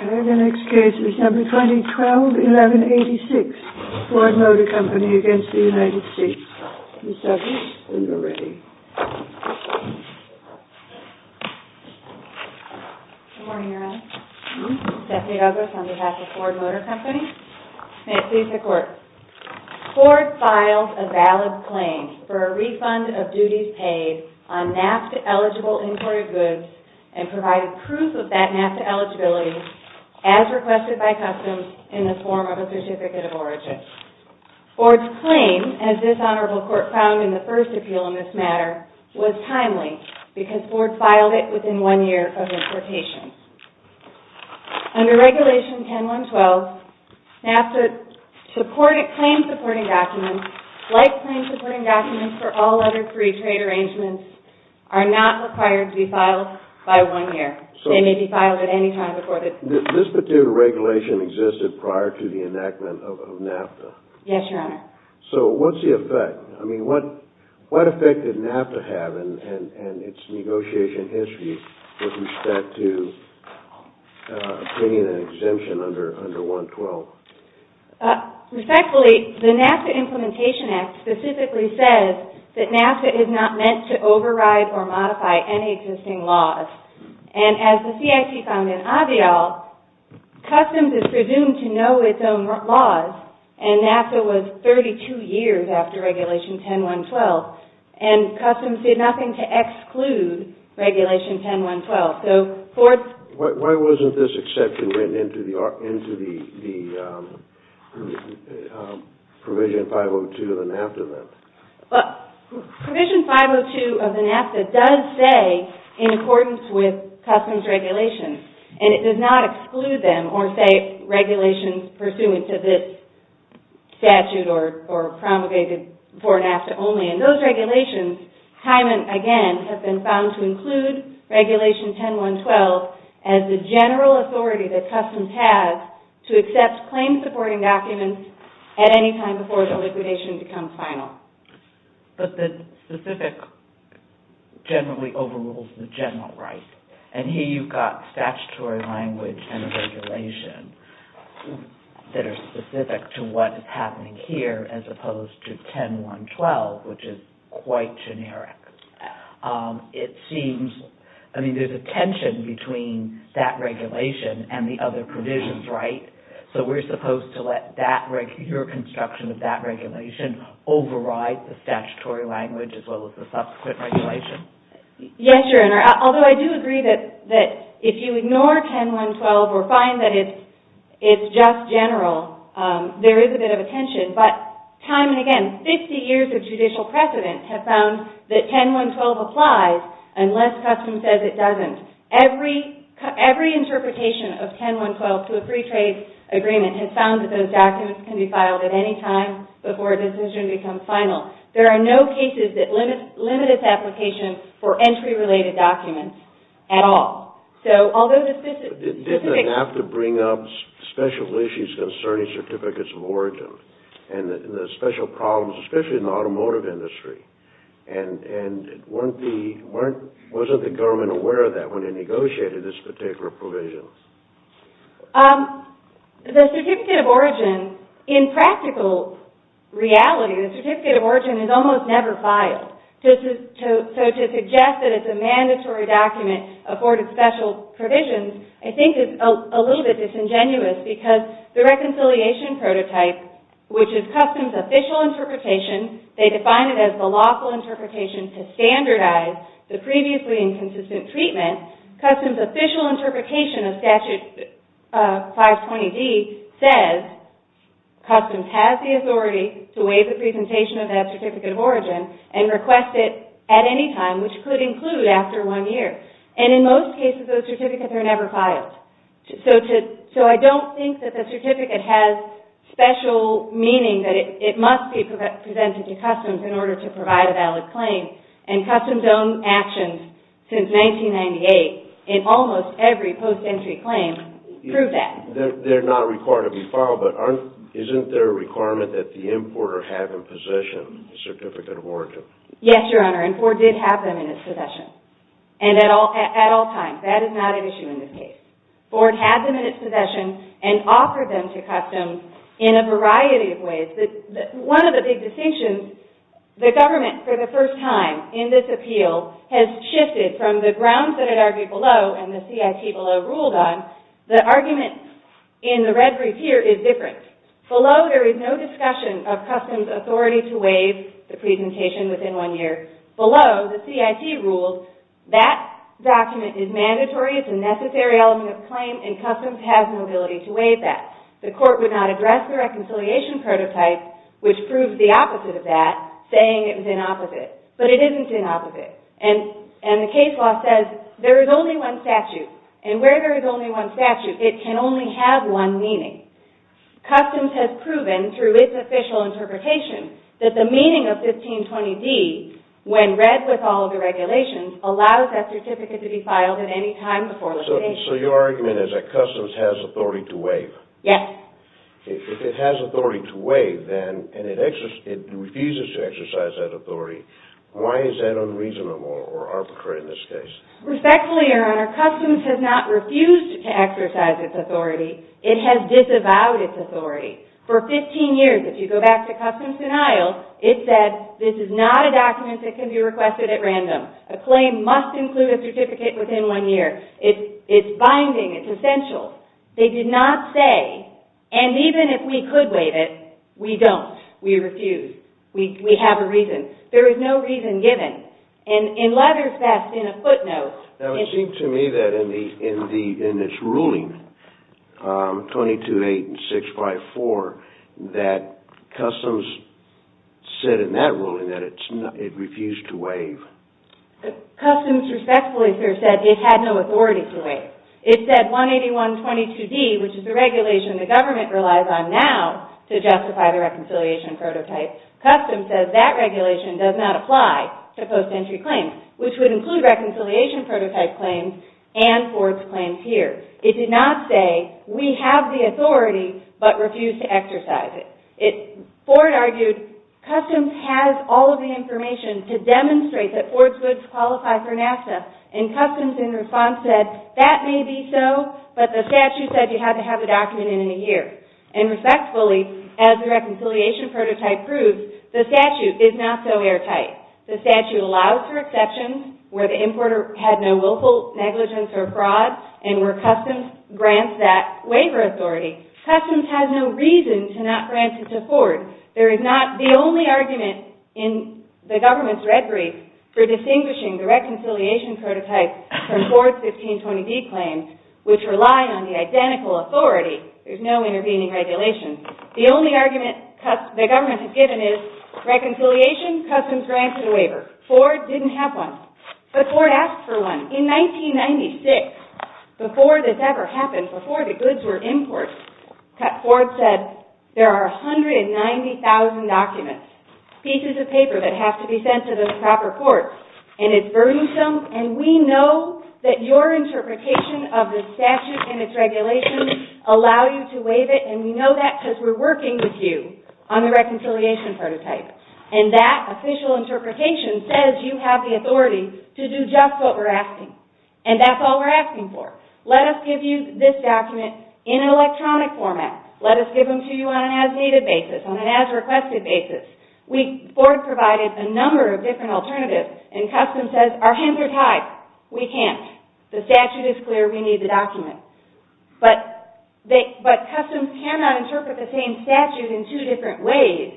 Okay, the next case is number 2012-11-86, Ford Motor Company against the United States. Ms. Douglas, when you're ready. Good morning, Your Honor. Stephanie Douglas on behalf of Ford Motor Company. May it please the Court. Ford filed a valid claim for a refund of duties paid on NAFTA-eligible imported goods and provided proof of that NAFTA eligibility as requested by customs in the form of a certificate of origin. Ford's claim, as this Honorable Court found in the first appeal in this matter, was timely because Ford filed it within one year of importation. Under Regulation 10-1-12, NAFTA claim-supporting documents, like claim-supporting documents for all other free trade arrangements, are not required to be filed by one year. They may be filed at any time recorded. This particular regulation existed prior to the enactment of NAFTA. Yes, Your Honor. So what's the effect? I mean, what effect did NAFTA have in its negotiation history with respect to bringing an exemption under 1-12? Respectfully, the NAFTA Implementation Act specifically says that NAFTA is not meant to override or modify any existing laws. And as the CIP found in Avial, customs is presumed to know its own laws, and NAFTA was 32 years after Regulation 10-1-12, and customs did nothing to exclude Regulation 10-1-12. Why wasn't this exception written into the Provision 502 of the NAFTA then? Provision 502 of the NAFTA does say, in accordance with customs regulations, and it does not exclude them or say regulations pursuant to this statute or promulgated for NAFTA only. And those regulations, again, have been found to include Regulation 10-1-12 as the general authority that customs has to accept claim-supporting documents at any time before the liquidation becomes final. But the specific generally overrules the general right. And here you've got statutory language and regulation that are specific to what is happening here as opposed to 10-1-12, which is quite generic. It seems, I mean, there's a tension between that regulation and the other provisions, right? So we're supposed to let your construction of that regulation override the statutory language as well as the subsequent regulation? Yes, Your Honor. Although I do agree that if you ignore 10-1-12 or find that it's just general, there is a bit of a tension. But time and again, 50 years of judicial precedent have found that 10-1-12 applies unless customs says it doesn't. Every interpretation of 10-1-12 to a free trade agreement has found that those documents can be filed at any time before a decision becomes final. There are no cases that limit its application for entry-related documents at all. So although the specific... Didn't the NAFTA bring up special issues concerning certificates of origin and the special problems, especially in the automotive industry? And wasn't the government aware of that when it negotiated this particular provision? The certificate of origin, in practical reality, the certificate of origin is almost never filed. So to suggest that it's a mandatory document, afforded special provisions, I think is a little bit disingenuous because the reconciliation prototype, which is customs' official interpretation, they define it as the lawful interpretation to standardize the previously inconsistent treatment, and customs' official interpretation of statute 520D says customs has the authority to waive the presentation of that certificate of origin and request it at any time, which could include after one year. And in most cases, those certificates are never filed. So I don't think that the certificate has special meaning that it must be presented to customs in order to provide a valid claim. And customs' own actions since 1998 in almost every post-entry claim prove that. They're not required to be filed, but aren't... Isn't there a requirement that the importer have in possession a certificate of origin? Yes, Your Honor, and Ford did have them in his possession. And at all times. That is not an issue in this case. Ford had them in his possession and offered them to customs in a variety of ways. One of the big distinctions, the government for the first time in this appeal has shifted from the grounds that it argued below and the CIT below ruled on. The argument in the red brief here is different. Below, there is no discussion of customs' authority to waive the presentation within one year. Below, the CIT rules that document is mandatory. It's a necessary element of claim, and customs has an ability to waive that. The court would not address the reconciliation prototype, which proves the opposite of that, saying it was inopposite. But it isn't inopposite. And the case law says there is only one statute. And where there is only one statute, it can only have one meaning. Customs has proven, through its official interpretation, that the meaning of 1520D, when read with all of the regulations, allows that certificate to be filed at any time before litigation. So your argument is that customs has authority to waive? Yes. If it has authority to waive, and it refuses to exercise that authority, why is that unreasonable or arbitrary in this case? Respectfully, Your Honor, customs has not refused to exercise its authority. It has disavowed its authority. For 15 years, if you go back to customs denial, it said this is not a document that can be requested at random. A claim must include a certificate within one year. It's binding. It's essential. They did not say, and even if we could waive it, we don't. We refuse. We have a reason. There is no reason given. And in Leather's best, in a footnote, it's true. Now, it seems to me that in this ruling, 22-8 and 654, that customs said in that ruling that it refused to waive. Customs respectfully, sir, said it had no authority to waive. It said 181.22d, which is the regulation the government relies on now to justify the reconciliation prototype. Customs says that regulation does not apply to post-entry claims, which would include reconciliation prototype claims and Ford's claims here. It did not say we have the authority but refuse to exercise it. Ford argued customs has all of the information to demonstrate that Ford's goods qualify for NASA, and customs in response said that may be so, but the statute said you had to have the document in a year. And respectfully, as the reconciliation prototype proves, the statute is not so airtight. The statute allows for exceptions where the importer had no willful negligence or fraud and where customs grants that waiver authority. Customs has no reason to not grant it to Ford. There is not the only argument in the government's red brief for distinguishing the reconciliation prototype from Ford's 1520d claims, which rely on the identical authority. There's no intervening regulation. The only argument the government has given is reconciliation, customs grants, and a waiver. Ford didn't have one, but Ford asked for one. In 1996, before this ever happened, before the goods were imported, Ford said there are 190,000 documents, pieces of paper that have to be sent to the proper courts, and it's burdensome, and we know that your interpretation of the statute and its regulations allow you to waive it, and we know that because we're working with you on the reconciliation prototype. And that official interpretation says you have the authority to do just what we're asking, and that's all we're asking for. Let us give you this document in an electronic format. Let us give them to you on an as-needed basis, on an as-requested basis. Ford provided a number of different alternatives, and customs says our hands are tied. We can't. The statute is clear. We need the document. But customs cannot interpret the same statute in two different ways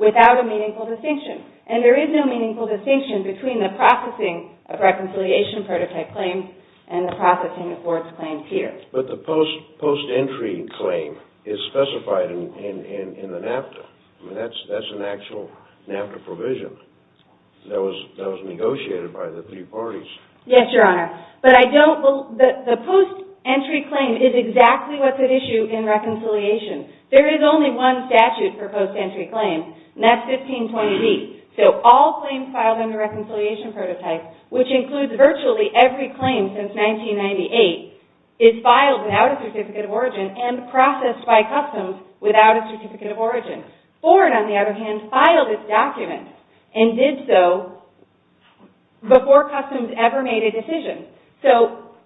without a meaningful distinction, and there is no meaningful distinction between the processing of reconciliation prototype claims and the processing of Ford's claims here. But the post-entry claim is specified in the NAFTA. I mean, that's an actual NAFTA provision that was negotiated by the three parties. Yes, Your Honor. But I don't believe the post-entry claim is exactly what's at issue in reconciliation. There is only one statute for post-entry claims, and that's 1520B. So all claims filed under reconciliation prototype, which includes virtually every claim since 1998, is filed without a certificate of origin and processed by customs without a certificate of origin. Ford, on the other hand, filed this document and did so before customs ever made a decision. So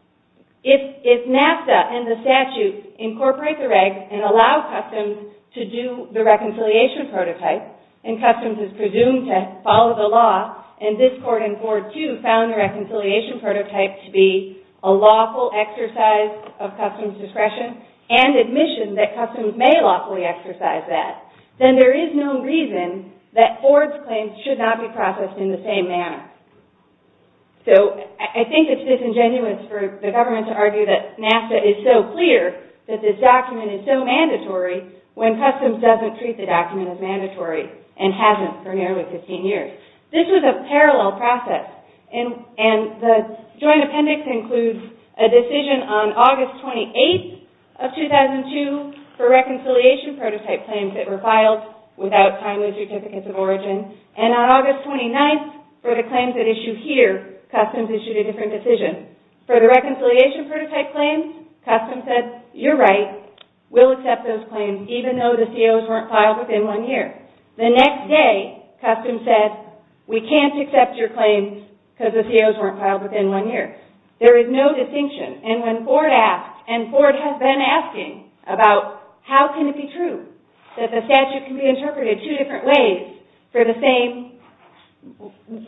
if NAFTA and the statute incorporate the regs and allow customs to do the reconciliation prototype, and customs is presumed to follow the law, and this court in Ford II found the reconciliation prototype to be a lawful exercise of customs discretion and admission that customs may lawfully exercise that, then there is no reason that Ford's claims should not be processed in the same manner. So I think it's disingenuous for the government to argue that NAFTA is so clear that this document is so mandatory when customs doesn't treat the document as mandatory and hasn't for nearly 15 years. This was a parallel process, and the joint appendix includes a decision on August 28th of 2002 for reconciliation prototype claims that were filed without signing the certificates of origin, and on August 29th for the claims at issue here, customs issued a different decision. For the reconciliation prototype claims, customs said, you're right, we'll accept those claims, even though the COs weren't filed within one year. The next day, customs said, we can't accept your claims because the COs weren't filed within one year. There is no distinction, and Ford has been asking about how can it be true that the statute can be interpreted two different ways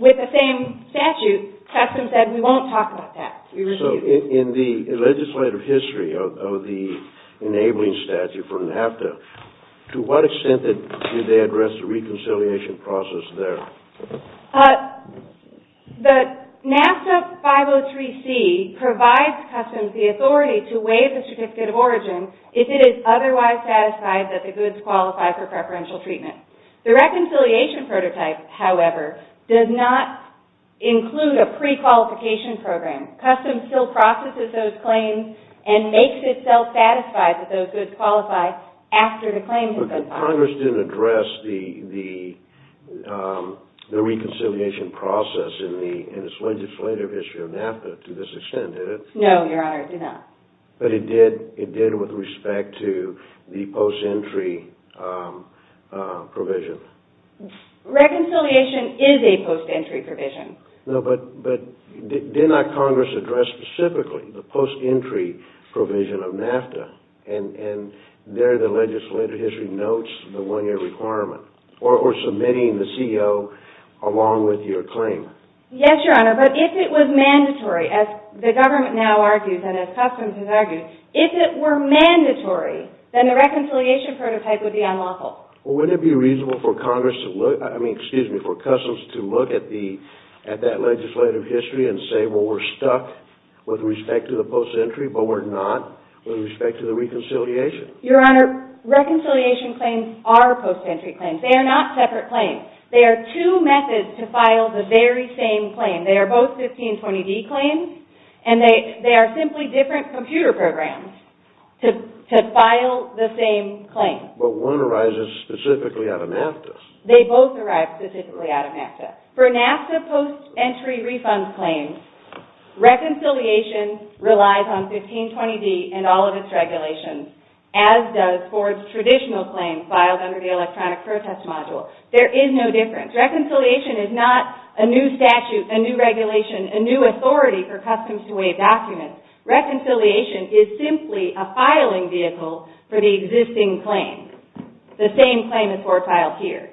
with the same statute. Customs said, we won't talk about that. So in the legislative history of the enabling statute for NAFTA, to what extent did they address the reconciliation process there? The NAFTA 503C provides customs the authority to waive the certificate of origin if it is otherwise satisfied that the goods qualify for preferential treatment. The reconciliation prototype, however, does not include a prequalification program. Customs still processes those claims and makes itself satisfied that those goods qualify after the claims have been filed. But Congress didn't address the reconciliation process in its legislative history of NAFTA to this extent, did it? No, Your Honor, it did not. But it did with respect to the post-entry provision. Reconciliation is a post-entry provision. No, but did not Congress address specifically the post-entry provision of NAFTA? And there the legislative history notes the one-year requirement, or submitting the CO along with your claim? Yes, Your Honor, but if it was mandatory, as the government now argues and as customs has argued, if it were mandatory, then the reconciliation prototype would be unlawful. Wouldn't it be reasonable for customs to look at that legislative history and say, well, we're stuck with respect to the post-entry, but we're not with respect to the reconciliation? Your Honor, reconciliation claims are post-entry claims. They are not separate claims. They are two methods to file the very same claim. They are both 1520D claims, and they are simply different computer programs to file the same claim. But one arises specifically out of NAFTA. They both arise specifically out of NAFTA. For NAFTA post-entry refund claims, reconciliation relies on 1520D and all of its regulations, as does Ford's traditional claims filed under the electronic protest module. There is no difference. Reconciliation is not a new statute, a new regulation, a new authority for customs to waive documents. Reconciliation is simply a filing vehicle for the existing claim, the same claim as Ford filed here.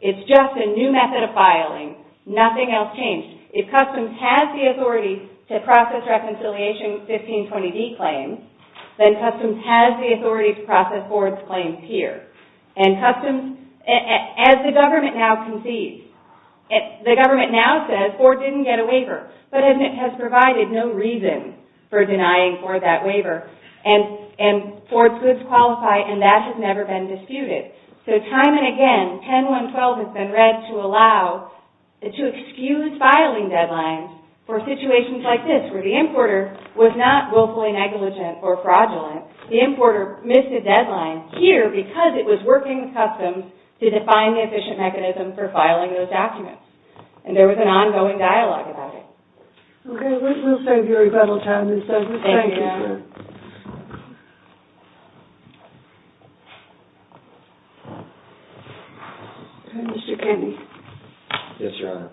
It's just a new method of filing. Nothing else changed. If customs has the authority to process reconciliation 1520D claims, then customs has the authority to process Ford's claims here. And customs, as the government now concedes, the government now says Ford didn't get a waiver, but has provided no reason for denying Ford that waiver. And Ford's goods qualify, and that has never been disputed. So time and again, 10.1.12 has been read to allow, to excuse filing deadlines for situations like this, where the importer was not willfully negligent or fraudulent. The importer missed a deadline here because it was working with customs to define the efficient mechanism for filing those documents. And there was an ongoing dialogue about it. Okay, we'll save your rebuttal time, Ms. Douglas. Thank you, Your Honor. Mr. Kennedy. Yes, Your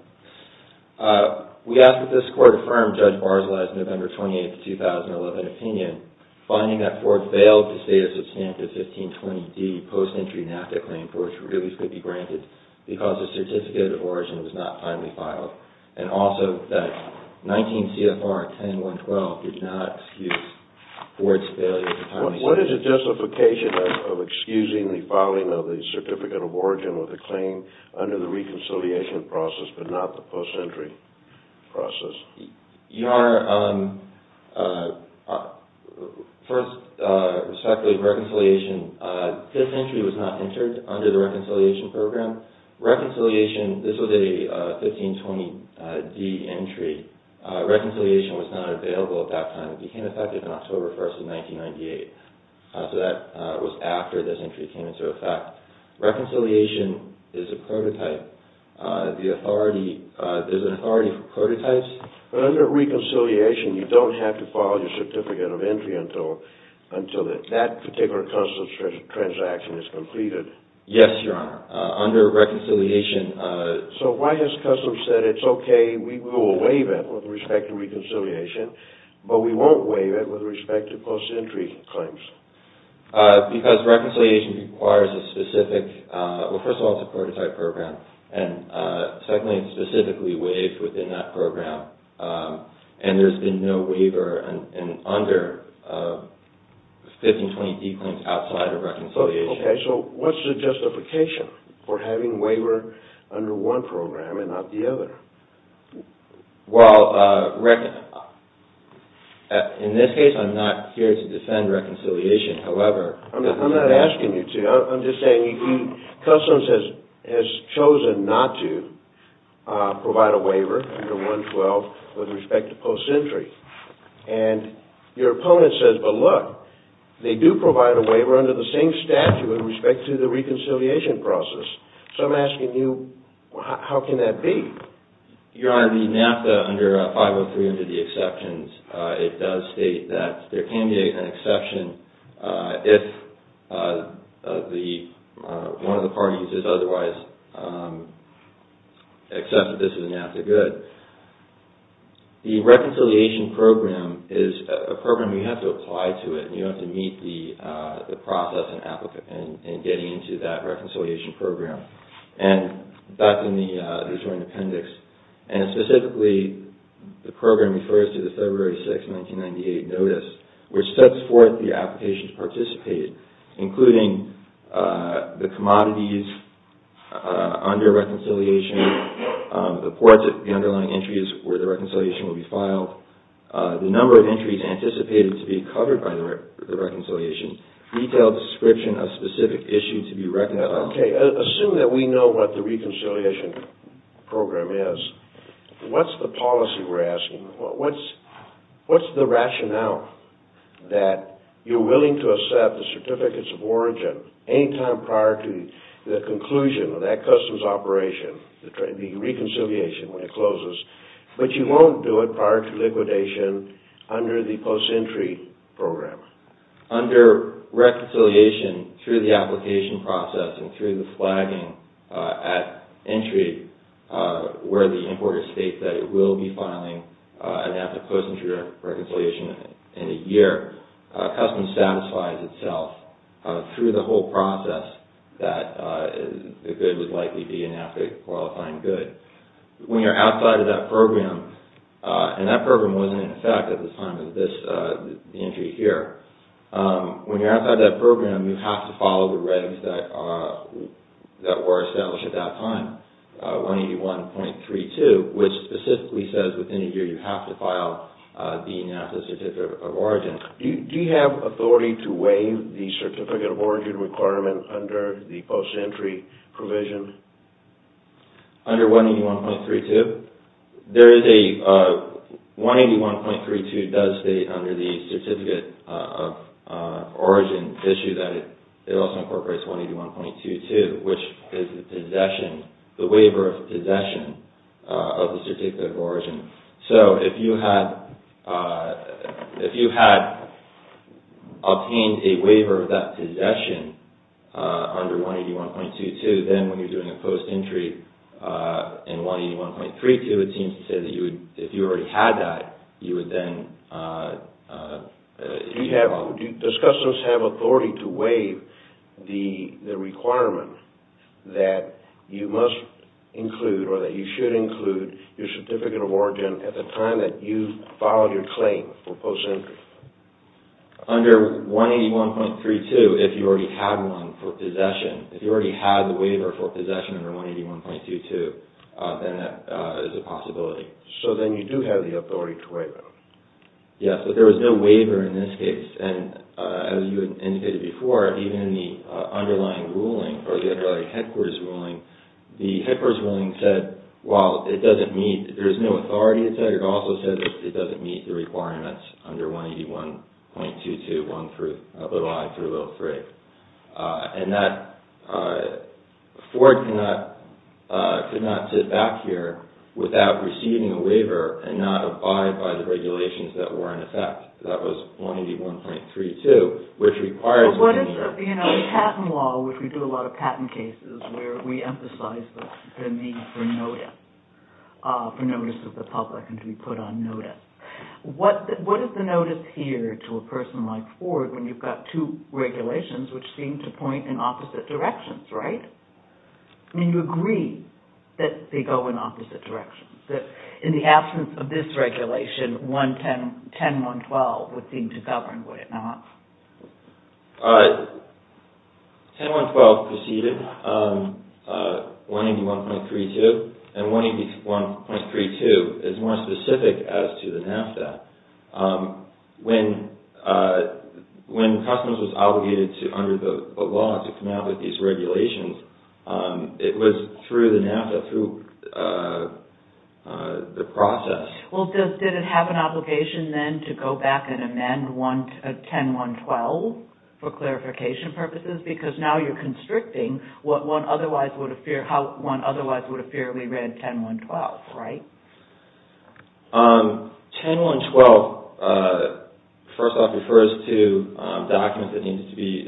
Honor. We ask that this Court affirm Judge Barr's last November 28, 2011, opinion, finding that Ford failed to state a substantive 1520D post-entry NAFTA claim for which release could be granted because the certificate of origin was not finally filed. And also that 19 CFR 10.1.12 did not excuse Ford's failure to timely state it. What is the justification of excusing the filing of the certificate of origin with a claim under the reconciliation process but not the post-entry process? Your Honor, first, respectfully, in terms of reconciliation, this entry was not entered under the reconciliation program. Reconciliation, this was a 1520D entry. Reconciliation was not available at that time. It became effective on October 1, 1998. So that was after this entry came into effect. Reconciliation is a prototype. The authority, there's an authority for prototypes. But under reconciliation, you don't have to file your certificate of entry until that particular customs transaction is completed. Yes, Your Honor. Under reconciliation... So why has customs said it's okay, we will waive it with respect to reconciliation, but we won't waive it with respect to post-entry claims? Because reconciliation requires a specific... Well, first of all, it's a prototype program. And secondly, it's specifically waived within that program. And there's been no waiver under 1520D claims outside of reconciliation. Okay, so what's the justification for having waiver under one program and not the other? Well, in this case, I'm not here to defend reconciliation. However... I'm not asking you to. I'm just saying customs has chosen not to provide a waiver under 112 with respect to post-entry. And your opponent says, but look, they do provide a waiver under the same statute with respect to the reconciliation process. So I'm asking you, how can that be? Your Honor, the NAFTA under 503 under the exceptions, it does state that there can be an exception if one of the parties has otherwise accepted this as a NAFTA good. The reconciliation program is a program you have to apply to it, and you have to meet the process in getting into that reconciliation program. And that's in the joint appendix. And specifically, the program refers to the February 6, 1998 notice, which sets forth the applications participated, including the commodities under reconciliation, the ports of the underlying entries where the reconciliation will be filed, the number of entries anticipated to be covered by the reconciliation, detailed description of specific issues to be recognized... What's the policy we're asking? What's the rationale that you're willing to accept the certificates of origin any time prior to the conclusion of that customs operation, the reconciliation when it closes, but you won't do it prior to liquidation under the post-entry program? Under reconciliation, through the application process and through the flagging at entry, where the importer states that it will be filing a NAFTA post-entry reconciliation in a year, customs satisfies itself through the whole process that the good would likely be a NAFTA qualifying good. When you're outside of that program, and that program wasn't in effect at the time of the entry here, when you're outside that program, you have to follow the regs that were established at that time. 181.32, which specifically says within a year you have to file the NAFTA certificate of origin. Do you have authority to waive the certificate of origin requirement under the post-entry provision? Under 181.32, there is a... 181.32 does state under the certificate of origin issue that it also incorporates 181.22, which is the waiver of possession of the certificate of origin. So if you had obtained a waiver of that possession under 181.22, then when you're doing a post-entry in 181.32, it seems to say that if you already had that, you would then... Does customs have authority to waive the requirement that you must include or that you should include your certificate of origin at the time that you filed your claim for post-entry? Under 181.32, if you already had one for possession, if you already had the waiver for possession under 181.22, then that is a possibility. So then you do have the authority to waive it? Yes, but there was no waiver in this case. And as you indicated before, even in the underlying ruling or the headquarters ruling, the headquarters ruling said, well, it doesn't meet... There's no authority to say. It also says it doesn't meet the requirements under 181.22, one through... Little I through Little III. And that... ...could not sit back here without receiving a waiver and not abide by the regulations that were in effect. That was 181.32, which requires... What is the... You know, the patent law, which we do a lot of patent cases, where we emphasize the need for notice of the public and to be put on notice. What is the notice here to a person like Ford when you've got two regulations which seem to point in opposite directions, right? I mean, you agree that they go in opposite directions, that in the absence of this regulation, 10.1.12 would seem to govern, would it not? All right. 10.1.12 preceded 181.32, and 181.32 is more specific as to the NAFTA. When customers was obligated under the law to come out with these regulations, it was through the NAFTA, through the process. Well, did it have an obligation then to go back and amend 10.1.12 for clarification purposes? Because now you're constricting what one otherwise would have feared, how one otherwise would have feared we read 10.1.12, right? 10.1.12, first off, refers to documents that need to be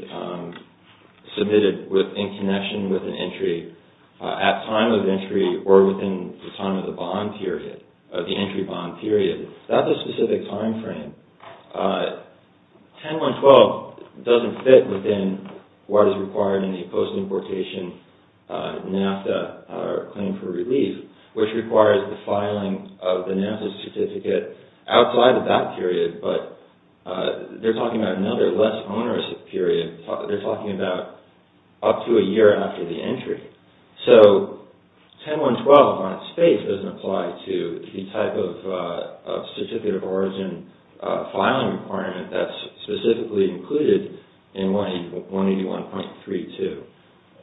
submitted in connection with an entry, at time of entry or within the time of the bond period, of the entry bond period. That's a specific timeframe. 10.1.12 doesn't fit within what is required in the post-importation NAFTA, or Claim for Relief, which requires the filing of the NAFTA certificate outside of that period, but they're talking about another less onerous period. They're talking about up to a year after the entry. So 10.1.12 on its face doesn't apply to the type of certificate of origin filing requirement that's specifically included in 181.32.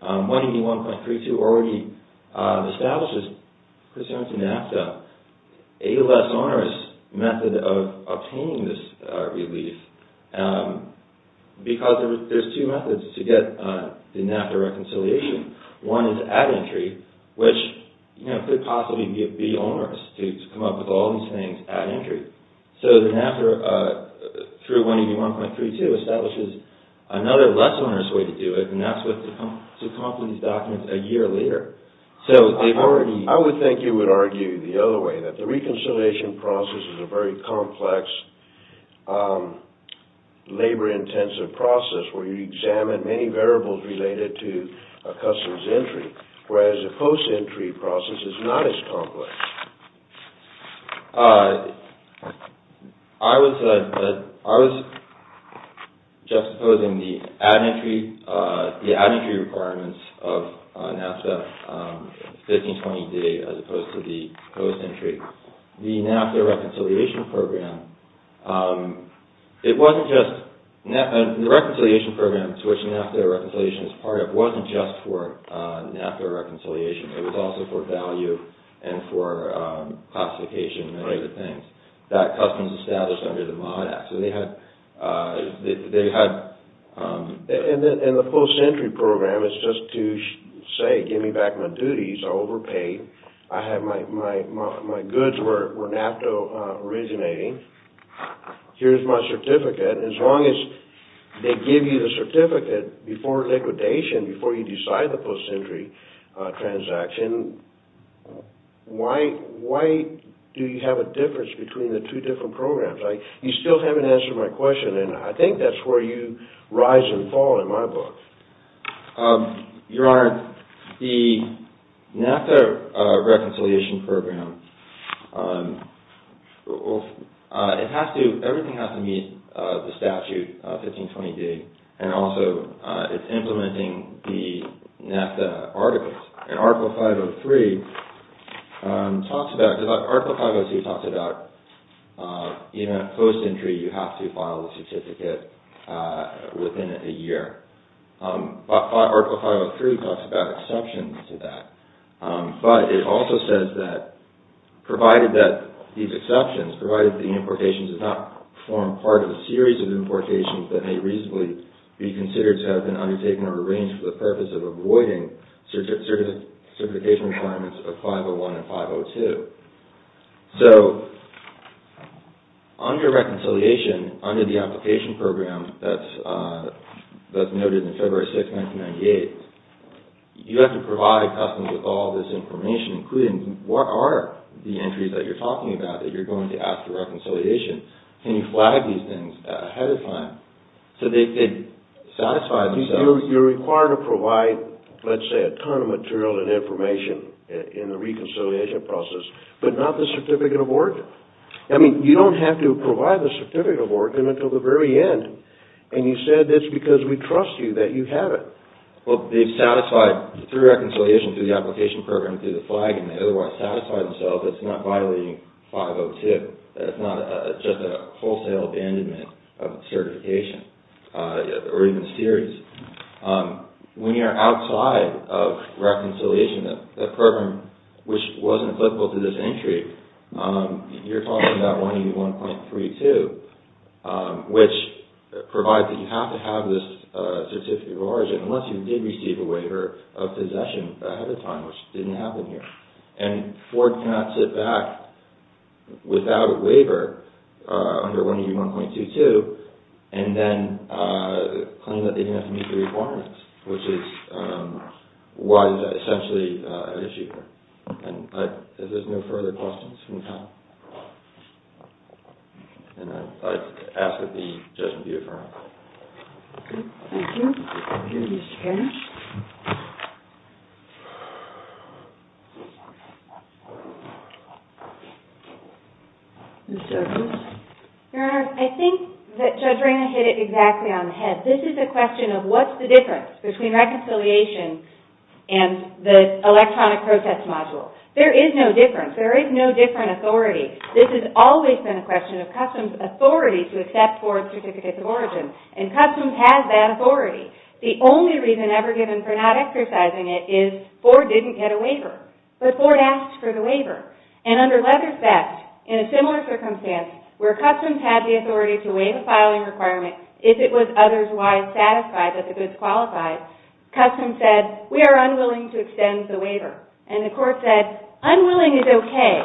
181.32 already establishes, concerning to NAFTA, a less onerous method of obtaining this relief because there's two methods to get the NAFTA reconciliation. One is at entry, which could possibly be onerous to come up with all these things at entry. So the NAFTA, through 181.32, establishes another less onerous way to do it, and that's to come up with these documents a year later. I would think you would argue the other way, that the reconciliation process is a very complex, labor-intensive process where you examine many variables related to a customer's entry, whereas a post-entry process is not as complex. I was juxtaposing the at-entry requirements of NAFTA 1520d as opposed to the post-entry. The NAFTA reconciliation program, it wasn't just... The reconciliation program to which NAFTA reconciliation is part of wasn't just for NAFTA reconciliation. It was also for value and for classification and other things that customers established under the MOD Act. So they had... And the post-entry program is just to say, give me back my duties, I overpaid, my goods were NAFTA originating, here's my certificate. As long as they give you the certificate before liquidation, before you decide the post-entry transaction, why do you have a difference between the two different programs? You still haven't answered my question, and I think that's where you rise and fall in my book. Your Honor, the NAFTA reconciliation program, everything has to meet the statute, 1520d, and also it's implementing the NAFTA articles. And Article 503 talks about... Article 503 talks about even post-entry, you have to file a certificate within a year. Article 503 talks about exceptions to that. But it also says that provided that these exceptions, provided the importations do not form part of a series of importations that may reasonably be considered to have been undertaken or arranged for the purpose of avoiding certification requirements of 501 and 502. So under reconciliation, under the application program that's noted in February 6, 1998, you have to provide customers with all this information, including what are the entries that you're talking about that you're going to ask for reconciliation. And you flag these things ahead of time, so they satisfy themselves. You're required to provide, let's say, a ton of material and information in the reconciliation process, but not the certificate of origin. I mean, you don't have to provide the certificate of origin until the very end. And you said it's because we trust you that you have it. Well, they've satisfied through reconciliation, through the application program, through the flag, and they otherwise satisfy themselves. It's not violating 502. It's not just a wholesale abandonment of certification or even series. When you're outside of reconciliation, that program which wasn't applicable to this entry, you're talking about 181.32, which provides that you have to have this certificate of origin unless you did receive a waiver of possession ahead of time, which didn't happen here. And Ford cannot sit back without a waiver under 181.32 and then claim that they didn't have to meet the requirements, which was essentially an issue here. And if there's no further questions, can we stop? And I ask that the judgment be deferred. Thank you. Thank you, Mr. Karrasch. Ms. Jenkins? Your Honor, I think that Judge Rana hit it exactly on the head. This is a question of what's the difference between reconciliation and the electronic protest module. There is no difference. There is no different authority. This has always been a question of customs authority to accept Ford certificates of origin, and customs has that authority. The only reason ever given for not exercising it is Ford didn't get a waiver. But Ford asked for the waiver. And under Ledger's Best, in a similar circumstance where customs had the authority to waive a filing requirement if it was otherwise satisfied that the goods qualified, customs said, we are unwilling to extend the waiver. And the court said, unwilling is okay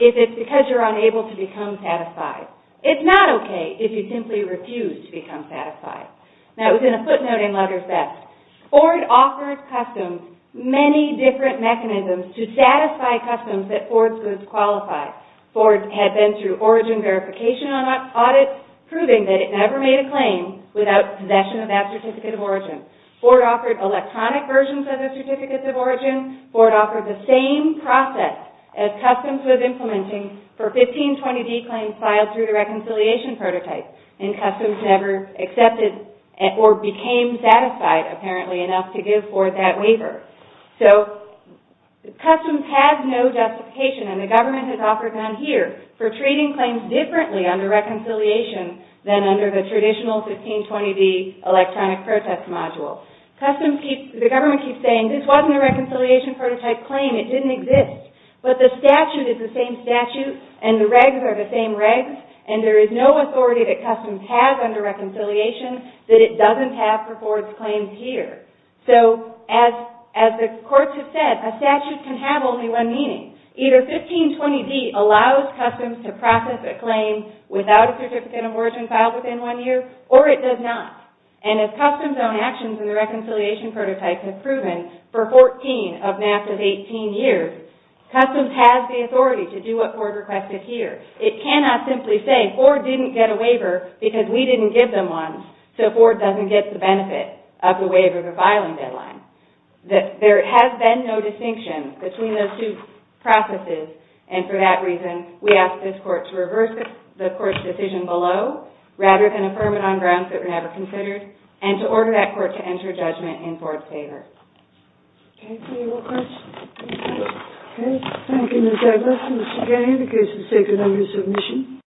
if it's because you're unable to become satisfied. It's not okay if you simply refuse to become satisfied. Now, it was in a footnote in Ledger's Best. Ford offered customs many different mechanisms to satisfy customs that Ford's goods qualified. Ford had been through origin verification and audit, proving that it never made a claim without possession of that certificate of origin. Ford offered electronic versions of the certificates of origin. Ford offered the same process as customs was implementing for 1520D claims filed through the reconciliation prototype. And customs never accepted or became satisfied apparently enough to give Ford that waiver. So customs has no justification, and the government has offered none here, for treating claims differently under reconciliation than under the traditional 1520D electronic protest module. The government keeps saying, this wasn't a reconciliation prototype claim. It didn't exist. But the statute is the same statute, and the regs are the same regs, and there is no authority that customs has under reconciliation that it doesn't have for Ford's claims here. So as the courts have said, a statute can have only one meaning. Either 1520D allows customs to process a claim without a certificate of origin filed within one year, or it does not. And as customs' own actions in the reconciliation prototype have proven for 14 of NASA's 18 years, customs has the authority to do what Ford requested here. It cannot simply say, Ford didn't get a waiver because we didn't give them one, so Ford doesn't get the benefit of the waiver of a filing deadline. There has been no distinction between those two processes, and for that reason, we ask this court to reverse the court's decision below, rather than affirm it on grounds that were never considered, and to order that court to enter judgment in Ford's favor. Okay, any more questions? Okay, thank you Ms. Douglas. Mr. Gay, the case is taken under submission.